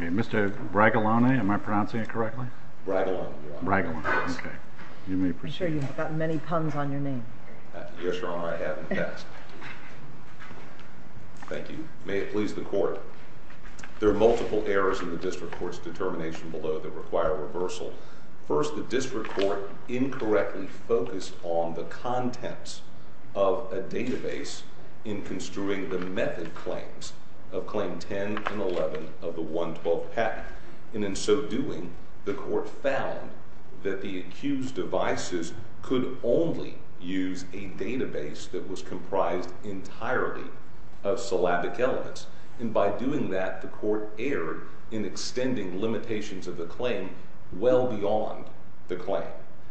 Mr. Bragalone, am I pronouncing it correctly? Bragalone, Your Honor. Bragalone. Okay. You may proceed. I'm sure you've got many puns on your name. Yes, Your Honor. I have in the past. Thank you. May it please the Court. There are multiple errors in the District Court's determination below that require reversal. First, the District Court incorrectly focused on the contents of a database in construing the method claims of Claim 10 and 11 of the 112th Act. And in so doing, the Court found that the accused devices could only use a database that was comprised entirely of syllabic elements. And by doing that, the Court erred in extending limitations of the claim well beyond the claim.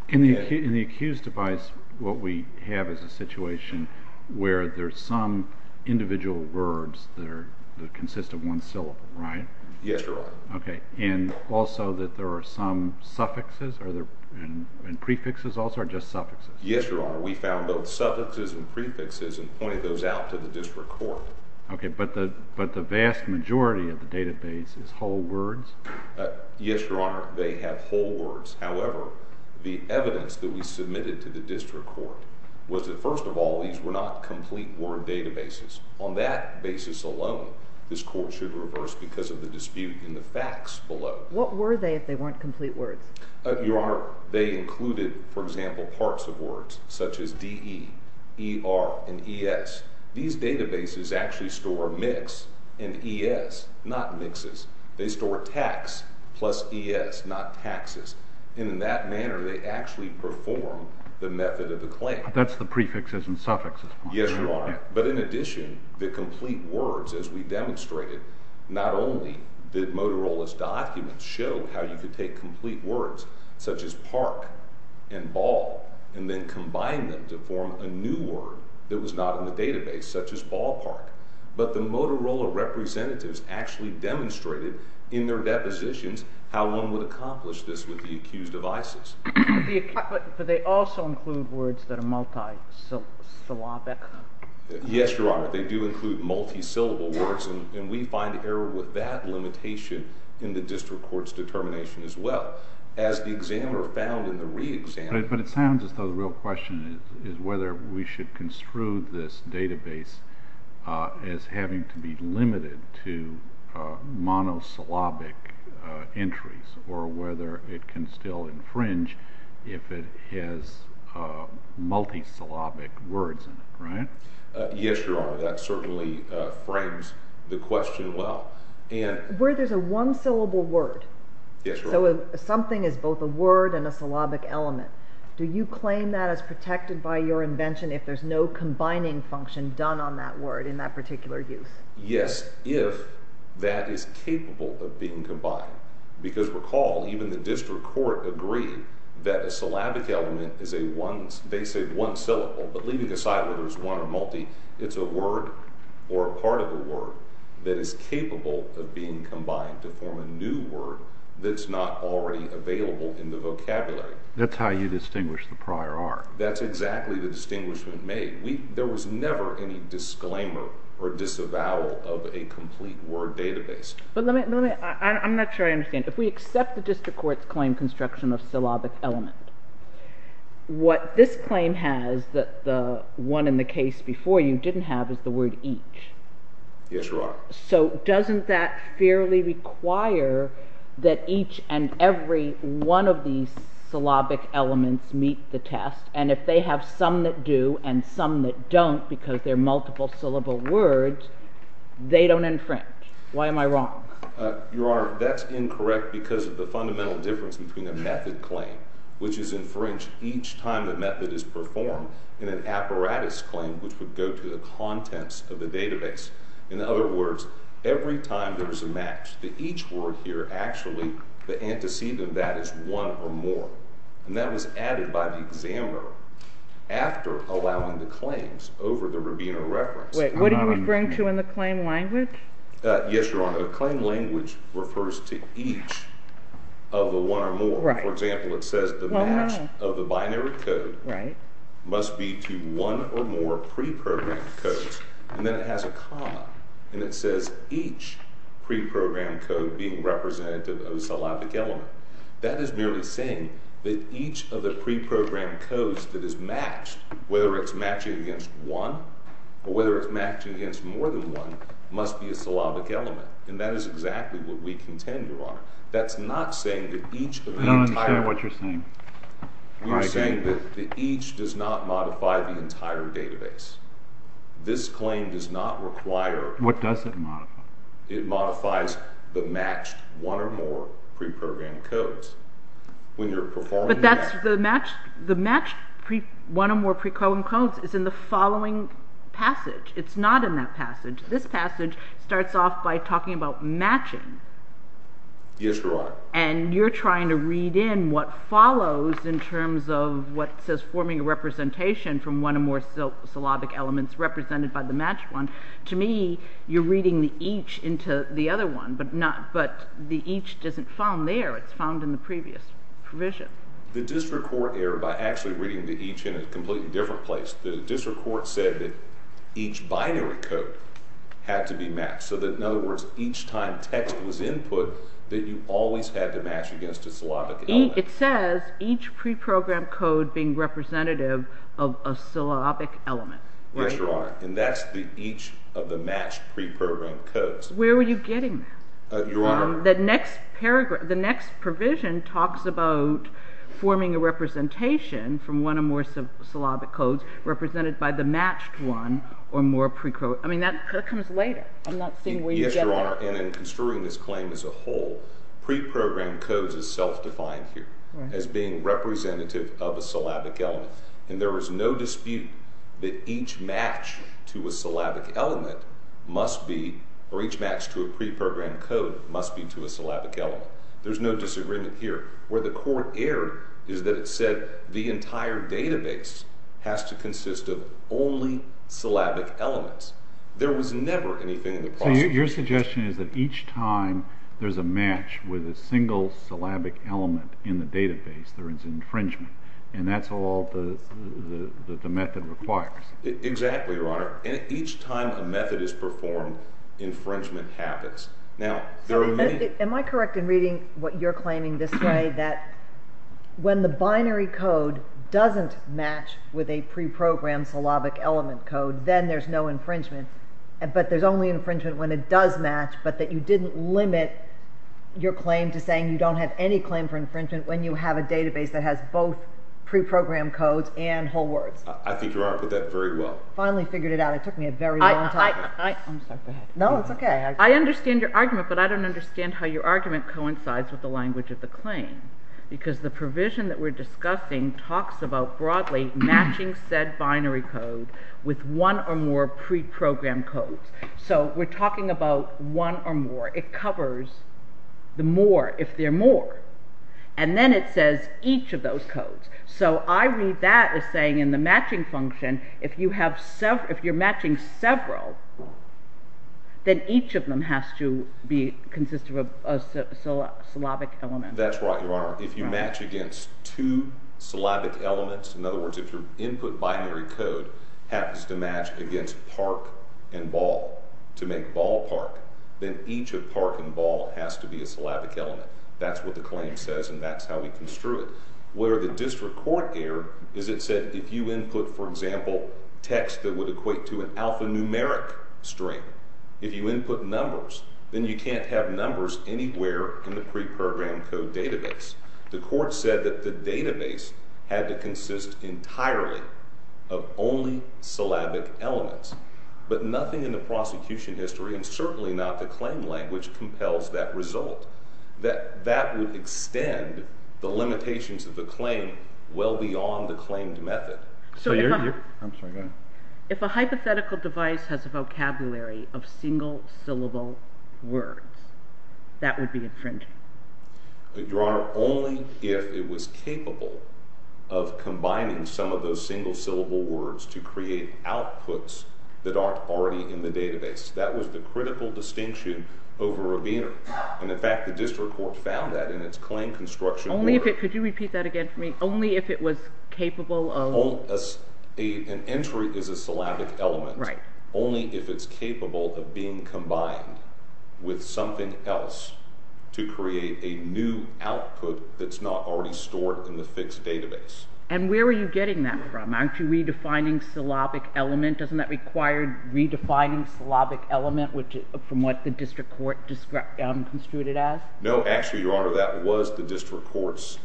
In the accused device, what we have is a situation where there's some individual words that consist of one syllable, right? Yes, Your Honor. Okay. And also that there are some suffixes and prefixes also, or just suffixes? Yes, Your Honor. We found both suffixes and prefixes and pointed those out to the District Court. Okay. But the vast majority of the database is whole words? Yes, Your Honor. They have whole words. However, the evidence that we submitted to the District Court was that, first of all, these were not complete word databases. On that basis alone, this Court should reverse because of the dispute in the facts below. What were they if they weren't complete words? Your Honor, they included, for example, parts of words such as D-E, E-R, and E-S. These databases actually store mix and E-S, not mixes. They store tax plus E-S, not taxes. And in that manner, they actually perform the method of the claim. That's the prefixes and suffixes part. Yes, Your Honor. But in addition, the complete words, as we demonstrated, not only did Motorola's documents show how you could take complete words such as park and ball and then combine them to form a new word that was not in the database, such as ballpark. But the Motorola representatives actually demonstrated in their depositions how one would accomplish this with the accused of ISIS. But they also include words that are multi-syllabic? Yes, Your Honor. They do include multi-syllable words. And we find error with that limitation in the District Court's determination as well. As the examiner found in the re-exam. But it sounds as though the real question is whether we should construe this database as having to be limited to monosyllabic entries or whether it can still infringe if it has multi-syllabic words in it, right? Yes, Your Honor. That certainly frames the question well. Where there's a one-syllable word. Yes, Your Honor. So something is both a word and a syllabic element. Do you claim that as protected by your invention if there's no combining function done on that word in that particular use? Yes, if that is capable of being combined. Because recall, even the District Court agreed that a syllabic element is a one, they say one syllable, but leaving aside whether it's one or multi, it's a word or a part of a word that is capable of being combined to form a new word that's not already available in the vocabulary. That's how you distinguish the prior art. That's exactly the distinguishment made. There was never any disclaimer or disavowal of a complete word database. But let me, I'm not sure I understand. If we accept the District Court's claim construction of syllabic element, what this claim has that the one in the case before you didn't have is the word each. Yes, Your Honor. So doesn't that fairly require that each and every one of these syllabic elements meet the test? And if they have some that do and some that don't because they're multiple syllable words, they don't infringe. Why am I wrong? Your Honor, that's incorrect because of the fundamental difference between a method claim, which is infringed each time the method is performed, and an apparatus claim, which would go to the contents of the database. In other words, every time there is a match to each word here, actually, the antecedent of that is one or more. And that was added by the examiner after allowing the claims over the Rabino reference. Wait, what are you referring to in the claim language? Yes, Your Honor. The claim language refers to each of the one or more. Right. For example, it says the match of the binary code must be to one or more prepurpose. And then it has a comma, and it says each preprogrammed code being representative of a syllabic element. That is merely saying that each of the preprogrammed codes that is matched, whether it's matching against one or whether it's matching against more than one, must be a syllabic element. And that is exactly what we contend, Your Honor. That's not saying that each of the entire... I don't understand what you're saying. You're saying that each does not modify the entire database. This claim does not require... What does it modify? It modifies the matched one or more preprogrammed codes. When you're performing... But that's the matched one or more preprogrammed codes is in the following passage. It's not in that passage. This passage starts off by talking about matching. Yes, Your Honor. And you're trying to read in what follows in terms of what says forming a representation from one or more syllabic elements represented by the matched one. To me, you're reading the each into the other one, but the each isn't found there. It's found in the previous provision. The district court error by actually reading the each in a completely different place. The district court said that each binary code had to be matched. In other words, each time text was input, that you always had to match against a syllabic element. It says each preprogrammed code being representative of a syllabic element. Yes, Your Honor. And that's the each of the matched preprogrammed codes. Where were you getting that? Your Honor. The next provision talks about forming a representation from one or more syllabic codes represented by the matched one or more... I mean, that comes later. I'm not seeing where you're getting at. Yes, Your Honor. And in construing this claim as a whole, preprogrammed codes is self-defined here as being representative of a syllabic element. And there is no dispute that each match to a syllabic element must be, or each match to a preprogrammed code must be to a syllabic element. There's no disagreement here. Where the court erred is that it said the entire database has to consist of only syllabic elements. There was never anything in the process... So your suggestion is that each time there's a match with a single syllabic element in the database, there is infringement, and that's all that the method requires. Exactly, Your Honor. And each time a method is performed, infringement happens. Now, there are many... Am I correct in reading what you're claiming this way, that when the binary code doesn't match with a preprogrammed syllabic element code, then there's no infringement, but there's only infringement when it does match, but that you didn't limit your claim to saying you don't have any claim for infringement when you have a database that has both preprogrammed codes and whole words? I think Your Honor put that very well. Finally figured it out. It took me a very long time. I'm sorry, go ahead. No, it's okay. I understand your argument, but I don't understand how your argument coincides with the language of the claim, because the provision that we're discussing talks about broadly matching said binary code with one or more preprogrammed codes. So we're talking about one or more. It covers the more, if there are more. And then it says each of those codes. So I read that as saying in the matching function, if you're matching several, then each of them has to consist of a syllabic element. That's right, Your Honor. If you match against two syllabic elements, in other words, if your input binary code happens to match against park and ball to make ballpark, then each of park and ball has to be a syllabic element. That's what the claim says, and that's how we construe it. Where the district court erred is it said if you input, for example, text that would equate to an alphanumeric string, if you input numbers, then you can't have numbers anywhere in the preprogrammed code database. The court said that the database had to consist entirely of only syllabic elements, but nothing in the prosecution history, and certainly not the claim language, compels that result. That would extend the limitations of the claim well beyond the claimed method. I'm sorry, go ahead. If a hypothetical device has a vocabulary of single syllable words, that would be infringing. Your Honor, only if it was capable of combining some of those single syllable words to create outputs that aren't already in the database. That was the critical distinction over Rabiner. In fact, the district court found that in its claim construction order. Could you repeat that again for me? Only if it was capable of... An entry is a syllabic element. Only if it's capable of being combined with something else to create a new output that's not already stored in the fixed database. And where are you getting that from? Aren't you redefining syllabic element? Doesn't that require redefining syllabic element from what the district court construed it as? No, actually, Your Honor, that was the district court's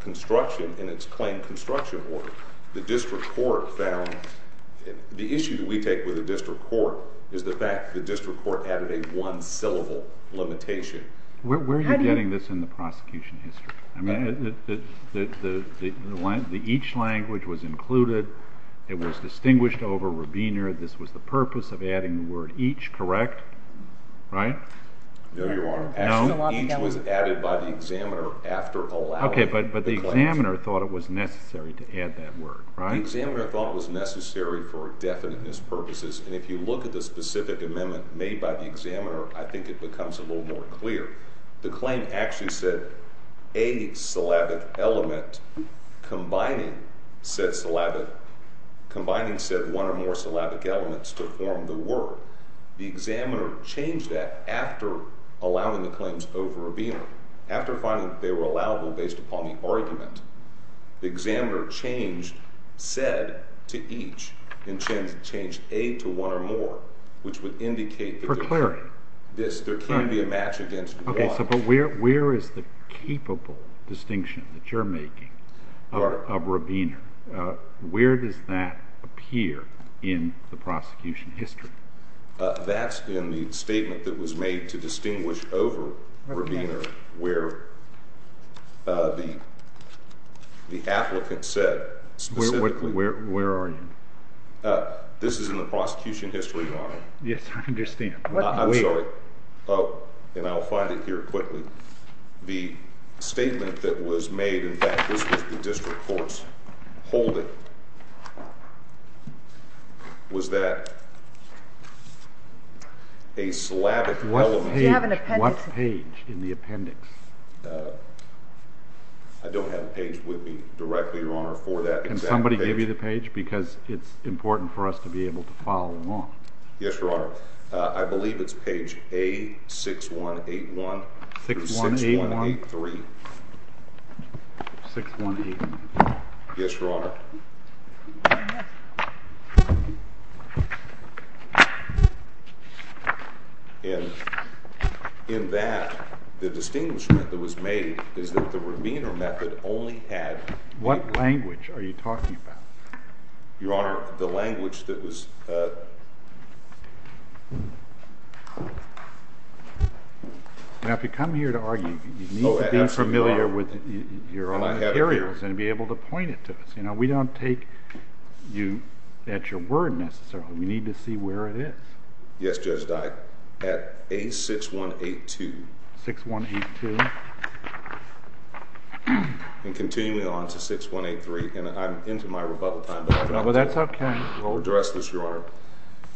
construction in its claim construction order. The district court found... The issue that we take with the district court is the fact that the district court added a one-syllable limitation. Where are you getting this in the prosecution history? I mean, the each language was included. It was distinguished over Rabiner. This was the purpose of adding the word each, correct? Right? No, Your Honor. Each was added by the examiner after allowing... Okay, but the examiner thought it was necessary to add that word, right? The examiner thought it was necessary for definiteness purposes. And if you look at the specific amendment made by the examiner, I think it becomes a little more clear. The claim actually said, a syllabic element combining said one or more syllabic elements to form the word. The examiner changed that after allowing the claims over Rabiner. After finding that they were allowable based upon the argument, the examiner changed said to each and changed a to one or more, which would indicate... For clarity. There can't be a match against one. Okay, so where is the capable distinction that you're making of Rabiner? Where does that appear in the prosecution history? That's in the statement that was made to distinguish over Rabiner where the applicant said specifically... Where are you? This is in the prosecution history, Your Honor. Yes, I understand. I'm sorry. And I'll find it here quickly. The statement that was made, in fact, this was the district court's holding, was that a syllabic element... Do you have an appendix? What page in the appendix? I don't have a page with me directly, Your Honor, for that exact page. Can somebody give you the page? Because it's important for us to be able to follow along. Yes, Your Honor. I believe it's page A6181. 6181? Or 6183. 6183. Yes, Your Honor. In that, the distinguishment that was made is that the Rabiner method only had... What language are you talking about? Your Honor, the language that was... Now, if you come here to argue, you need to be familiar with your own materials and be able to point it to us. We don't take you at your word necessarily. We need to see where it is. Yes, Judge Dyke. At A6182. 6182. And continuing on to 6183. And I'm into my rebuttal time. Well, that's okay. I'll address this, Your Honor. It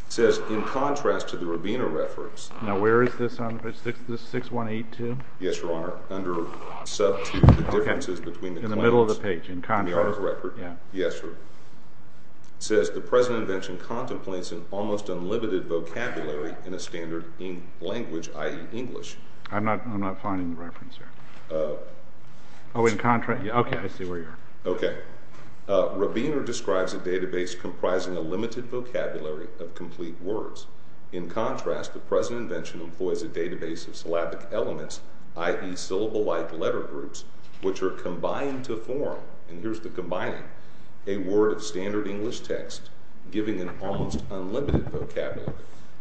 says, in contrast to the Rabiner reference... Now, where is this on page 6182? Yes, Your Honor. Okay. In the middle of the page. In contrast. Yes, Your Honor. I'm not finding the reference here. Oh. Oh, in contra... Okay, I see where you are. Okay. Which are combined to form. And here's the combining. A word of standard English text giving an almost unlimited vocabulary.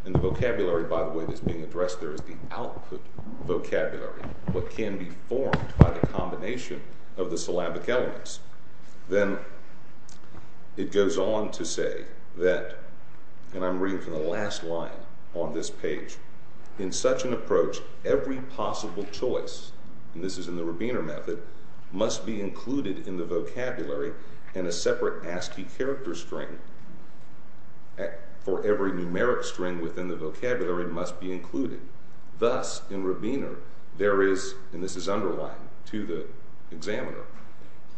And the vocabulary, by the way, that's being addressed there is the output vocabulary. What can be formed by the combination of the syllabic elements. Then it goes on to say that... And I'm reading from the last line on this page. In such an approach, every possible choice, and this is in the Rabiner method, must be included in the vocabulary and a separate ASCII character string for every numeric string within the vocabulary must be included. Thus, in Rabiner, there is, and this is underlined to the examiner,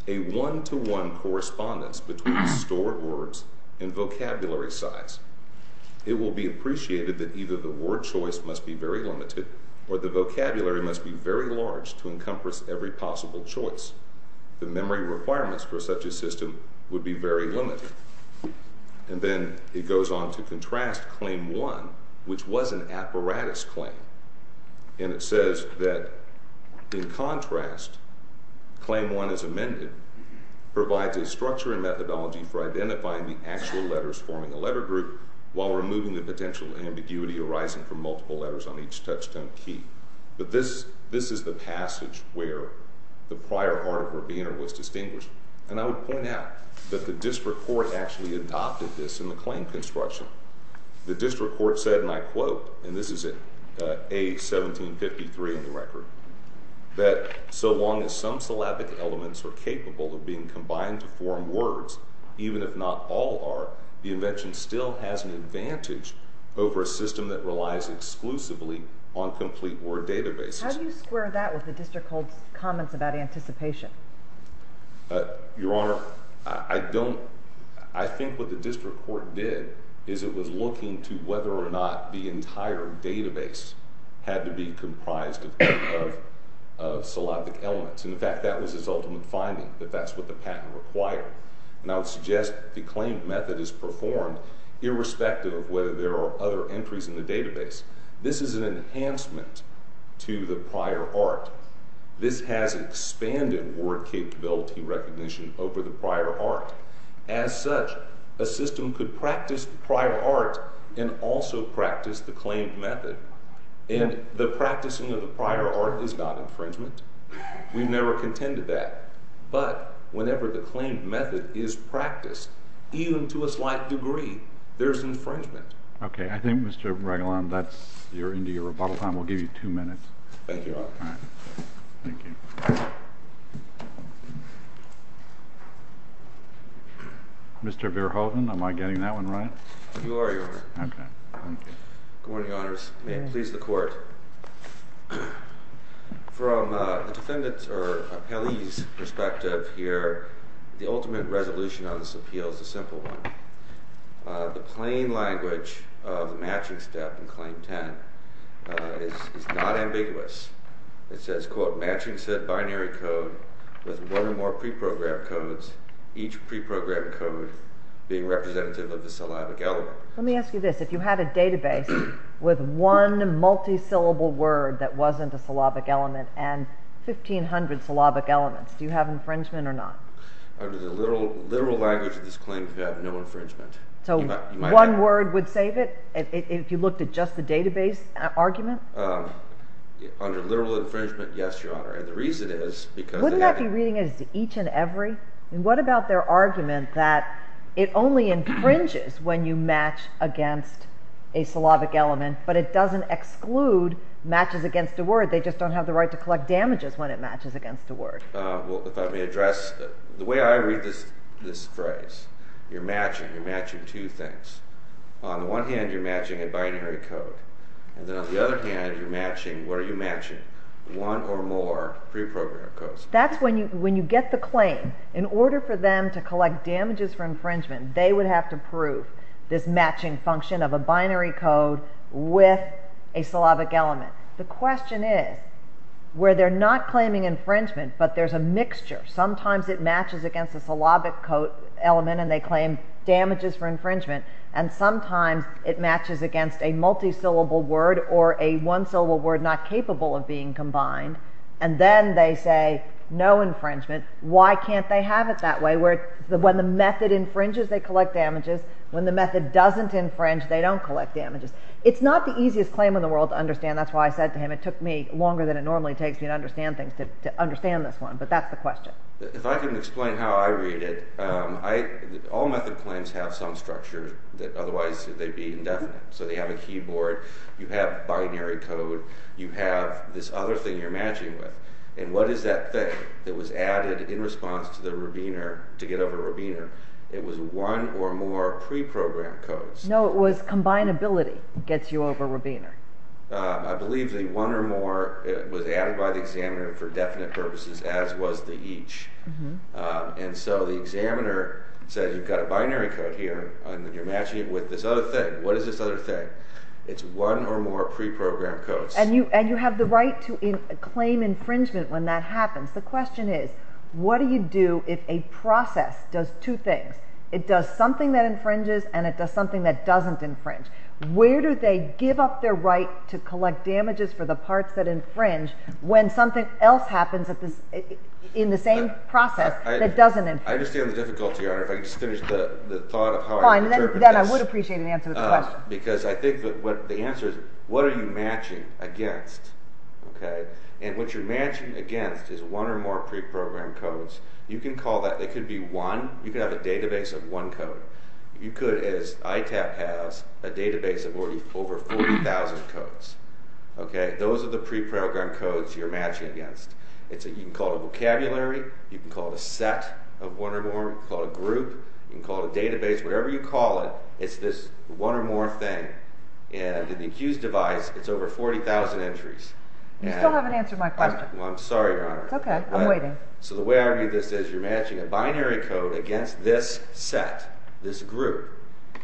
a one-to-one correspondence between stored words and vocabulary size. It will be appreciated that either the word choice must be very limited or the vocabulary must be very large to encompass every possible choice. The memory requirements for such a system would be very limited. And then it goes on to contrast Claim 1, which was an apparatus claim. And it says that, in contrast, Claim 1, as amended, provides a structure and methodology for identifying the actual letters forming a letter group while removing the potential ambiguity arising from multiple letters on each touchstone key. But this is the passage where the prior art of Rabiner was distinguished. And I would point out that the district court actually adopted this in the claim construction. The district court said, and I quote, and this is at A. 1753 in the record, that so long as some syllabic elements are capable of being combined to form words, even if not all are, the invention still has an advantage over a system that relies exclusively on complete word databases. How do you square that with the district court's comments about anticipation? Your Honor, I don't... I think what the district court did is it was looking to whether or not the entire database had to be comprised of syllabic elements. In fact, that was its ultimate finding, that that's what the patent required. And I would suggest the claimed method is performed irrespective of whether there are other entries in the database. This is an enhancement to the prior art. This has expanded word capability recognition over the prior art. As such, a system could practice the prior art and also practice the claimed method. And the practicing of the prior art is not infringement. We've never contended that. But whenever the claimed method is practiced, even to a slight degree, there's infringement. Okay, I think, Mr. Ragulan, you're into your rebuttal time. We'll give you two minutes. Thank you, Your Honor. All right. Thank you. Mr. Verhoeven, am I getting that one right? You are, Your Honor. Okay. Good morning, Your Honors. May it please the Court. From a defendant's or appellee's perspective here, the ultimate resolution on this appeal is a simple one. The plain language of the matching step in Claim 10 is not ambiguous. It says, quote, matching set binary code with one or more preprogrammed codes, each preprogrammed code being representative of the syllabic element. Let me ask you this. If you had a database with one multisyllable word that wasn't a syllabic element and 1,500 syllabic elements, do you have infringement or not? Under the literal language of this claim, you have no infringement. So one word would save it if you looked at just the database argument? Under literal infringement, yes, Your Honor. And the reason is because... Wouldn't that be reading as each and every? I mean, what about their argument that it only infringes when you match against a syllabic element, but it doesn't exclude matches against a word? They just don't have the right to collect damages when it matches against a word. Well, if I may address, the way I read this phrase, you're matching, you're matching two things. On the one hand, you're matching a binary code. And then on the other hand, you're matching, what are you matching? One or more preprogrammed codes. That's when you get the claim. In order for them to collect damages for infringement, they would have to prove this matching function of a binary code with a syllabic element. The question is, where they're not claiming infringement, but there's a mixture. Sometimes it matches against a syllabic element and they claim damages for infringement. And sometimes it matches against a multi-syllable word or a one-syllable word not capable of being combined. And then they say, no infringement. Why can't they have it that way? When the method infringes, they collect damages. When the method doesn't infringe, they don't collect damages. It's not the easiest claim in the world to understand. That's why I said to him, it took me longer than it normally takes me to understand things to understand this one. But that's the question. If I can explain how I read it, all method claims have some structure that otherwise they'd be indefinite. So they have a keyboard, you have binary code, you have this other thing you're matching with. And what is that thing that was added in response to the Rabiner, to get over Rabiner? It was one or more preprogrammed codes. No, it was combinability gets you over Rabiner. I believe the one or more was added by the examiner for definite purposes, as was the each. And so the examiner says, you've got a binary code here, and you're matching it with this other thing. What is this other thing? It's one or more preprogrammed codes. And you have the right to claim infringement when that happens. The question is, what do you do if a process does two things? It does something that infringes and it does something that doesn't infringe. Where do they give up their right to collect damages for the parts that infringe when something else happens in the same process that doesn't infringe? I understand the difficulty, Your Honor. If I could just finish the thought of how I interpret this. Fine, then I would appreciate an answer to the question. Because I think the answer is, what are you matching against? And what you're matching against is one or more preprogrammed codes. You can call that, it could be one, you could have a database of one code. You could, as ITAP has, a database of over 40,000 codes. Okay? Those are the preprogrammed codes you're matching against. You can call it a vocabulary, you can call it a set of one or more, you can call it a group, you can call it a database, whatever you call it, it's this one or more thing. And in the accused device, it's over 40,000 entries. You still haven't answered my question. I'm sorry, Your Honor. Okay, I'm waiting. So the way I read this is, you're matching a binary code against this set, this group.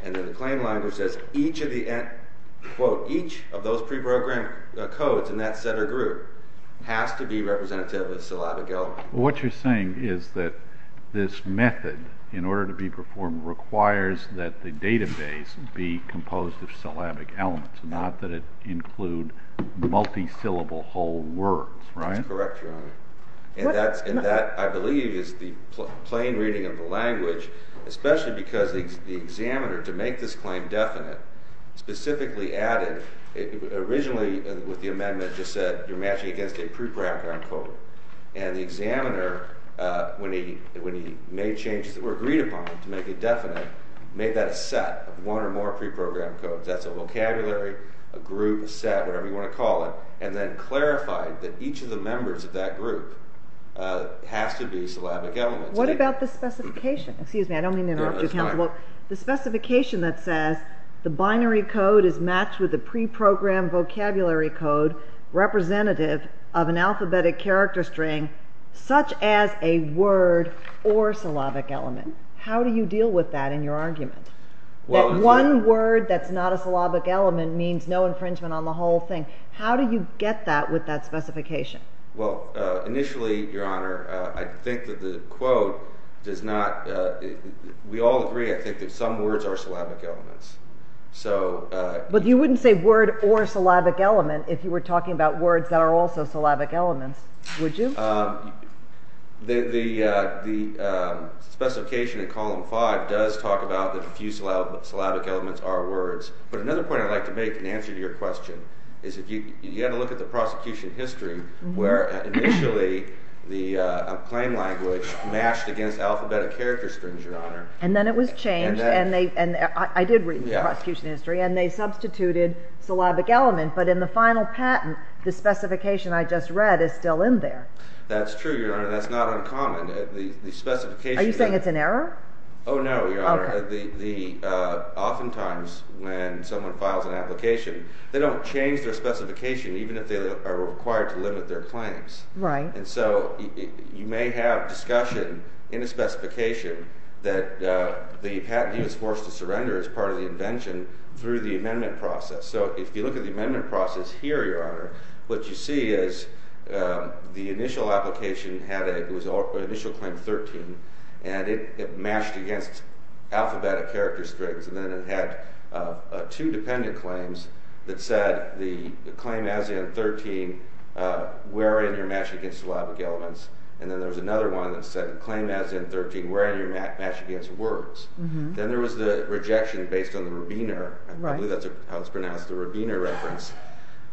And then the claim language says, each of those preprogrammed codes in that set or group has to be representative of a syllabic element. What you're saying is that this method, in order to be performed, requires that the database be composed of syllabic elements, not that it include multi-syllable whole words, right? That's correct, Your Honor. And that, I believe, is the plain reading of the language, especially because the examiner, to make this claim definite, specifically added, originally with the amendment, just said you're matching against a preprogrammed code. And the examiner, when he made changes that were agreed upon to make it definite, made that a set of one or more preprogrammed codes. That's a vocabulary, a group, a set, whatever you want to call it, and then clarified that each of the members of that group has to be a syllabic element. What about the specification? Excuse me, I don't mean to interrupt you, Counselor. The specification that says the binary code is matched with a preprogrammed vocabulary code representative of an alphabetic character string, such as a word or syllabic element. How do you deal with that in your argument? That one word that's not a syllabic element means no infringement on the whole thing. How do you get that with that specification? Well, initially, Your Honor, I think that the quote does not... We all agree, I think, that some words are syllabic elements. So... But you wouldn't say word or syllabic element if you were talking about words that are also syllabic elements, would you? The specification in Column 5 does talk about that a few syllabic elements are words. But another point I'd like to make in answer to your question is if you had a look at the prosecution history where initially the claim language matched against alphabetic character strings, Your Honor... And then it was changed, and they... I did read the prosecution history, and they substituted syllabic element, but in the final patent, the specification I just read is still in there. That's true, Your Honor, that's not uncommon. The specification... Are you saying it's an error? Oh, no, Your Honor. Oftentimes, when someone files an application, they don't change their specification even if they are required to limit their claims. Right. And so you may have discussion in a specification that the patentee was forced to surrender as part of the invention through the amendment process. So if you look at the amendment process here, Your Honor, what you see is the initial application had a... It was initial claim 13, and it matched against alphabetic character strings, and then it had two dependent claims that said the claim as in 13 wherein you're matching against syllabic elements, and then there was another one that said the claim as in 13 wherein you're matching against words. Then there was the rejection based on the Rubiner. I believe that's how it's pronounced, the Rubiner reference.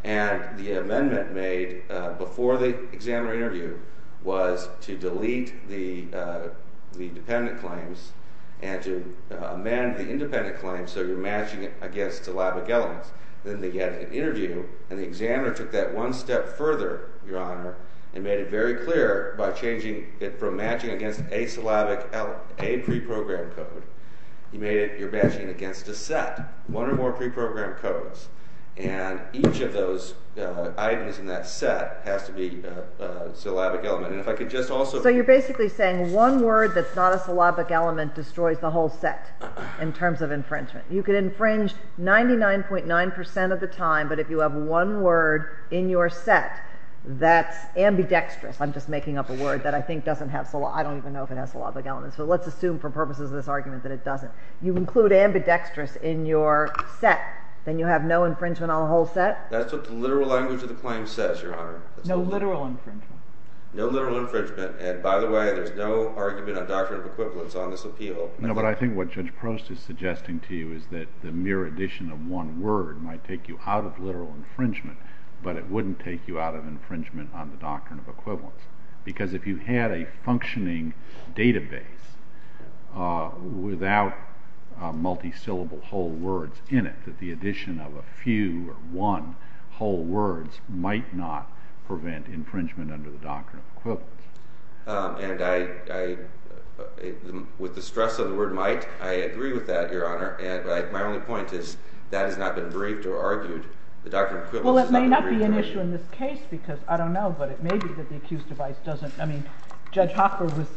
And the amendment made before the exam or interview was to delete the dependent claims and to amend the independent claims so you're matching it against syllabic elements. Then they had an interview, and the examiner took that one step further, Your Honor, and made it very clear by changing it from matching against a syllabic preprogrammed code, he made it you're matching it against a set, one or more preprogrammed codes, and each of those items in that set has to be a syllabic element. And if I could just also... Well, one word that's not a syllabic element destroys the whole set in terms of infringement. You can infringe 99.9% of the time, but if you have one word in your set that's ambidextrous, I'm just making up a word that I think doesn't have... I don't even know if it has syllabic elements, so let's assume for purposes of this argument that it doesn't. You include ambidextrous in your set, then you have no infringement on the whole set? That's what the literal language of the claim says, Your Honor. No literal infringement. No literal infringement. And by the way, there's no argument on doctrine of equivalence on this appeal. No, but I think what Judge Prost is suggesting to you is that the mere addition of one word might take you out of literal infringement, but it wouldn't take you out of infringement on the doctrine of equivalence because if you had a functioning database without multi-syllable whole words in it, that the addition of a few or one whole words might not prevent infringement under the doctrine of equivalence. And with the stress of the word might, I agree with that, Your Honor, but my only point is that has not been briefed or argued. The doctrine of equivalence has not been briefed or argued. Well, it may not be an issue in this case because, I don't know, but it may be that the accused device doesn't... I mean, Judge Hochberg was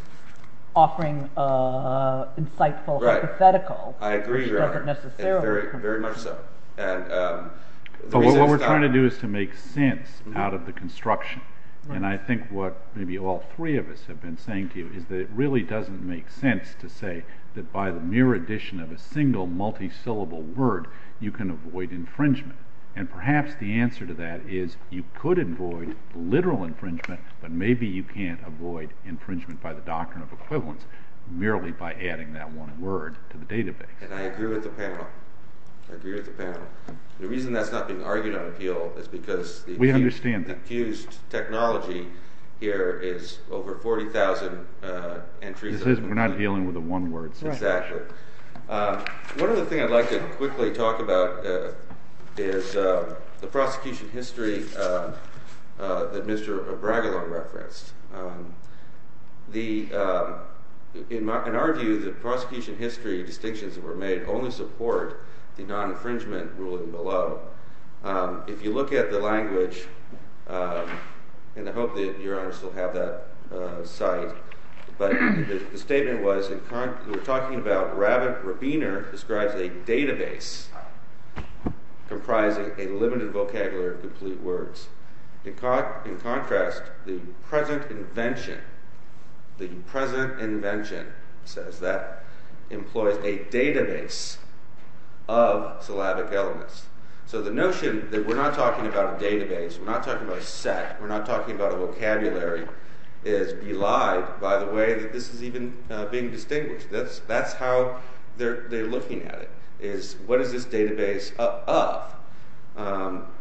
offering an insightful hypothetical. I agree, Your Honor, very much so. But what we're trying to do is to make sense out of the construction. And I think what maybe all three of us have been saying to you is that it really doesn't make sense to say that by the mere addition of a single multi-syllable word you can avoid infringement. And perhaps the answer to that is you could avoid literal infringement, but maybe you can't avoid infringement by the doctrine of equivalence merely by adding that one word to the database. And I agree with the panel. I agree with the panel. The reason that's not being argued on appeal is because... We understand that. ...the accused technology here is over 40,000 entries... This is, we're not dealing with the one word. Exactly. One other thing I'd like to quickly talk about is the prosecution history that Mr. Bragilow referenced. In our view, the prosecution history distinctions that were made only support the non-infringement ruling below. If you look at the language, and I hope that Your Honor still have that cite, but the statement was, we're talking about Rabbit Rabiner describes a database comprising a limited vocabulary of complete words. In contrast, the present invention says that employs a database of syllabic elements. So the notion that we're not talking about a database, we're not talking about a set, we're not talking about a vocabulary, is belied by the way that this is even being distinguished. That's how they're looking at it, is what is this database of?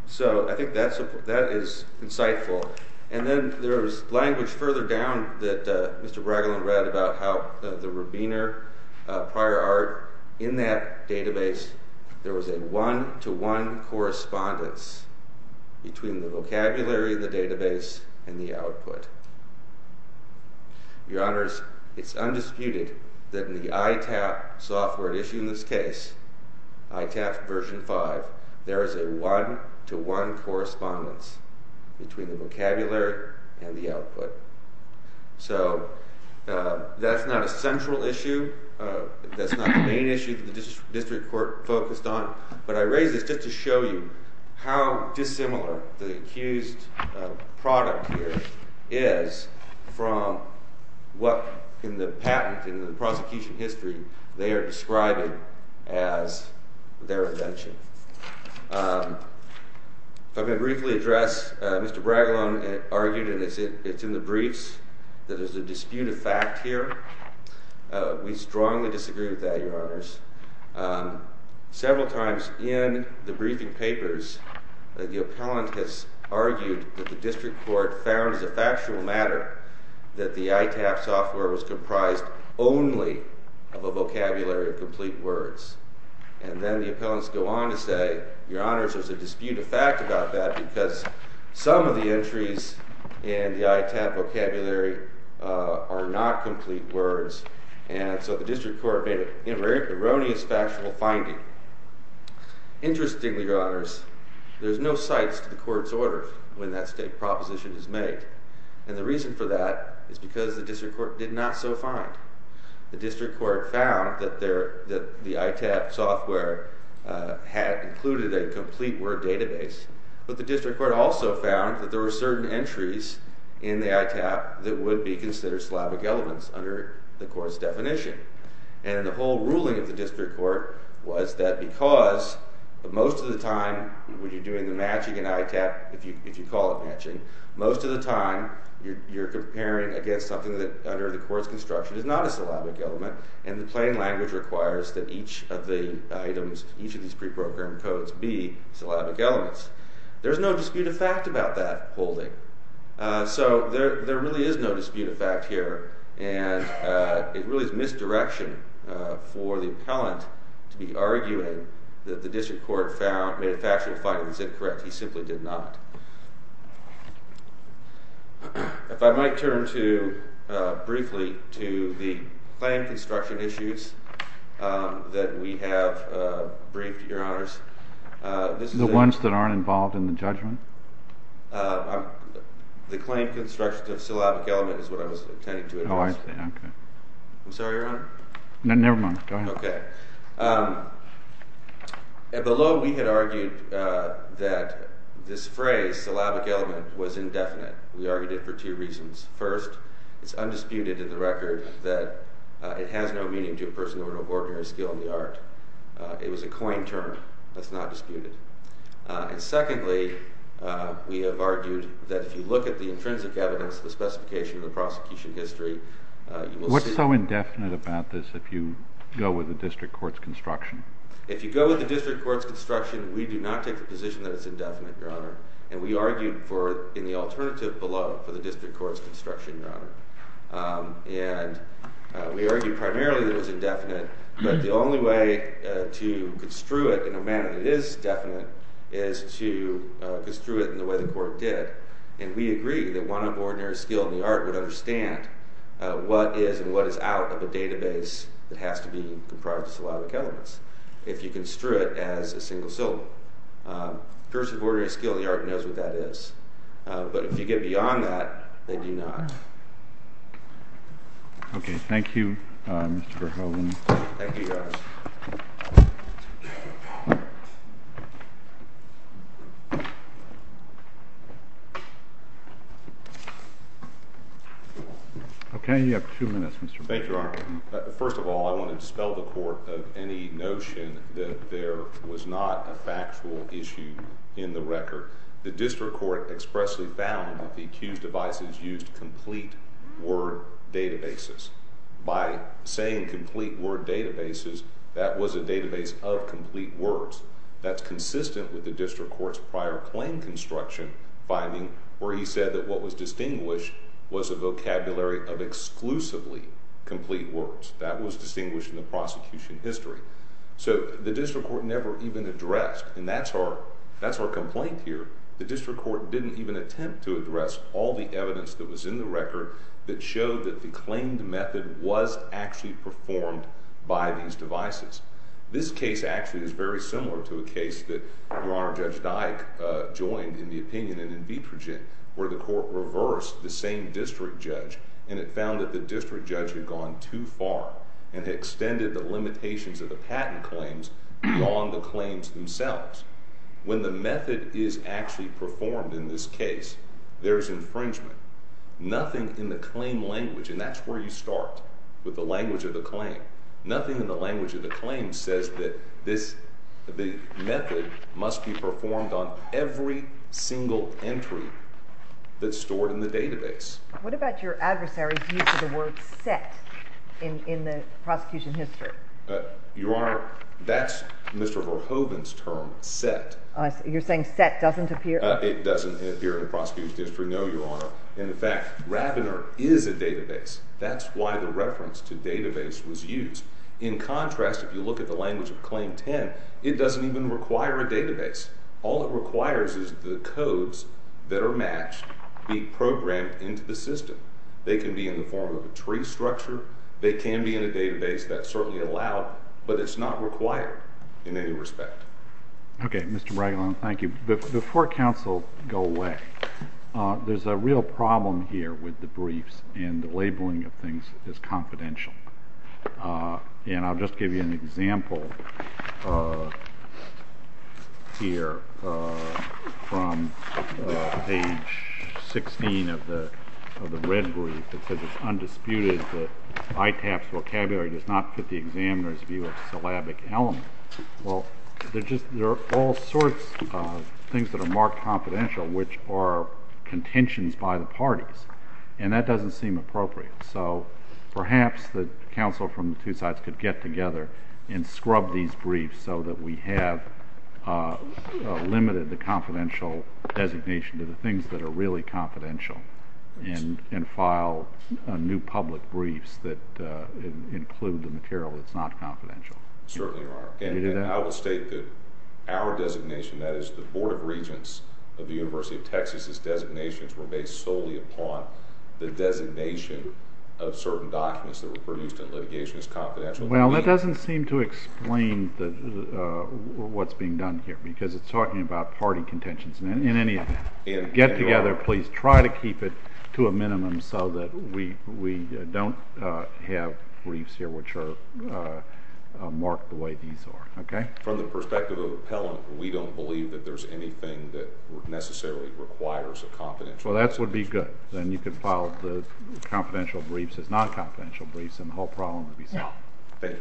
So I think that is insightful. And then there's language further down that Mr. Bragilow read about how the Rabiner prior art in that database, there was a one-to-one correspondence between the vocabulary of the database and the output. Your Honors, it's undisputed that in the ITAP software issued in this case, ITAP version 5, there is a one-to-one correspondence between the vocabulary and the output. So that's not a central issue, that's not the main issue that the district court focused on, but I raise this just to show you how dissimilar the accused product here is from what in the patent, in the prosecution history, they are describing as their invention. If I may briefly address, Mr. Bragilow argued, and it's in the briefs, that there's a dispute of fact here. We strongly disagree with that, Your Honors. Several times in the briefing papers, the appellant has argued that the district court found as a factual matter that the ITAP software was comprised only of a vocabulary of complete words. And then the appellants go on to say, Your Honors, there's a dispute of fact about that because some of the entries in the ITAP vocabulary are not complete words, and so the district court made an erroneous factual finding. Interestingly, Your Honors, there's no cites to the court's order when that state proposition is made. And the reason for that is because the district court did not so find. The district court found that the ITAP software had included a complete word database, but the district court also found that there were certain entries in the ITAP that would be considered syllabic elements under the court's definition. And the whole ruling of the district court was that because most of the time, when you're doing the matching in ITAP, if you call it matching, most of the time you're comparing against something that under the court's construction is not a syllabic element, and the plain language requires that each of the items, each of these preprogrammed codes be syllabic elements. There's no dispute of fact about that holding. So there really is no dispute of fact here, and it really is misdirection for the appellant to be arguing that the district court made a factual finding and said, correct, he simply did not. If I might turn to, briefly, to the claim construction issues that we have briefed, Your Honors. The ones that aren't involved in the judgment? The claim construction of syllabic element is what I was intending to address. Oh, I see, okay. I'm sorry, Your Honor? No, never mind. Go ahead. Okay. Below, we had argued that this phrase, syllabic element, was indefinite. We argued it for two reasons. First, it's undisputed in the record that it has no meaning to a person of an ordinary skill in the art. It was a claim term. That's not disputed. And secondly, we have argued that if you look at the intrinsic evidence, the specification of the prosecution history, you will see... If you go with the district court's construction, we do not take the position that it's indefinite, Your Honor. And we argued for, in the alternative below, for the district court's construction, Your Honor. And we argued primarily that it was indefinite, but the only way to construe it in a manner that is definite is to construe it in the way the court did. And we agree that one of ordinary skill in the art would understand what is and what is out of a database that has to be comprised of syllabic elements if you construe it as a single syllable. A person of ordinary skill in the art knows what that is. But if you get beyond that, they do not. Okay. Thank you, Mr. Verhoeven. Thank you, Your Honor. Okay, you have two minutes, Mr. Verhoeven. Thank you, Your Honor. First of all, I want to dispel the court of any notion that there was not a factual issue in the record. The district court expressly found that the accused devices used complete word databases. By saying complete word databases, that was a database of complete words. That's consistent with the district court's prior claim construction finding where he said that what was distinguished was a vocabulary of exclusively complete words. That was distinguished in the prosecution history. So the district court never even addressed, and that's our complaint here, the district court didn't even attempt to address all the evidence that was in the record that showed that the claimed method was actually performed by these devices. This case actually is very similar to a case that Your Honor, Judge Dyke joined in the opinion in Invitrogen where the court reversed the same district judge and it found that the district judge had gone too far and had extended the limitations of the patent claims beyond the claims themselves. When the method is actually performed in this case, there's infringement. Nothing in the claim language, and that's where you start with the language of the claim, nothing in the language of the claim says that the method must be performed on every single entry that's stored in the database. What about your adversary's use of the word set in the prosecution history? Your Honor, that's Mr. Verhoeven's term, set. You're saying set doesn't appear? It doesn't appear in the prosecution history, no, Your Honor. In fact, Rabiner is a database. That's why the reference to database was used. In contrast, if you look at the language of Claim 10, it doesn't even require a database. All it requires is the codes that are matched be programmed into the system. They can be in the form of a tree structure. They can be in a database. That's certainly allowed, but it's not required in any respect. Okay, Mr. Bregolin, thank you. Before counsel go away, there's a real problem here with the briefs and the labeling of things is confidential. And I'll just give you an example here from page 16 of the red brief. It says it's undisputed that ITAP's vocabulary does not fit the examiner's view of syllabic element. Well, there are all sorts of things that are marked confidential which are contentions by the parties, and that doesn't seem appropriate. So perhaps the counsel from the two sides could get together and scrub these briefs so that we have limited the confidential designation to the things that are really confidential and file new public briefs that include the material that's not confidential. Certainly, Your Honor. And I will state that our designation, that is the Board of Regents of the University of Texas, designations were based solely upon the designation of certain documents that were produced in litigation as confidential. Well, that doesn't seem to explain what's being done here because it's talking about party contentions. In any get-together, please try to keep it to a minimum so that we don't have briefs here which are marked the way these are, okay? From the perspective of appellant, we don't believe that there's anything that necessarily requires a confidential designation. Well, that would be good. Then you could file the confidential briefs as non-confidential briefs, and the whole problem would be solved. Thank you, Your Honor.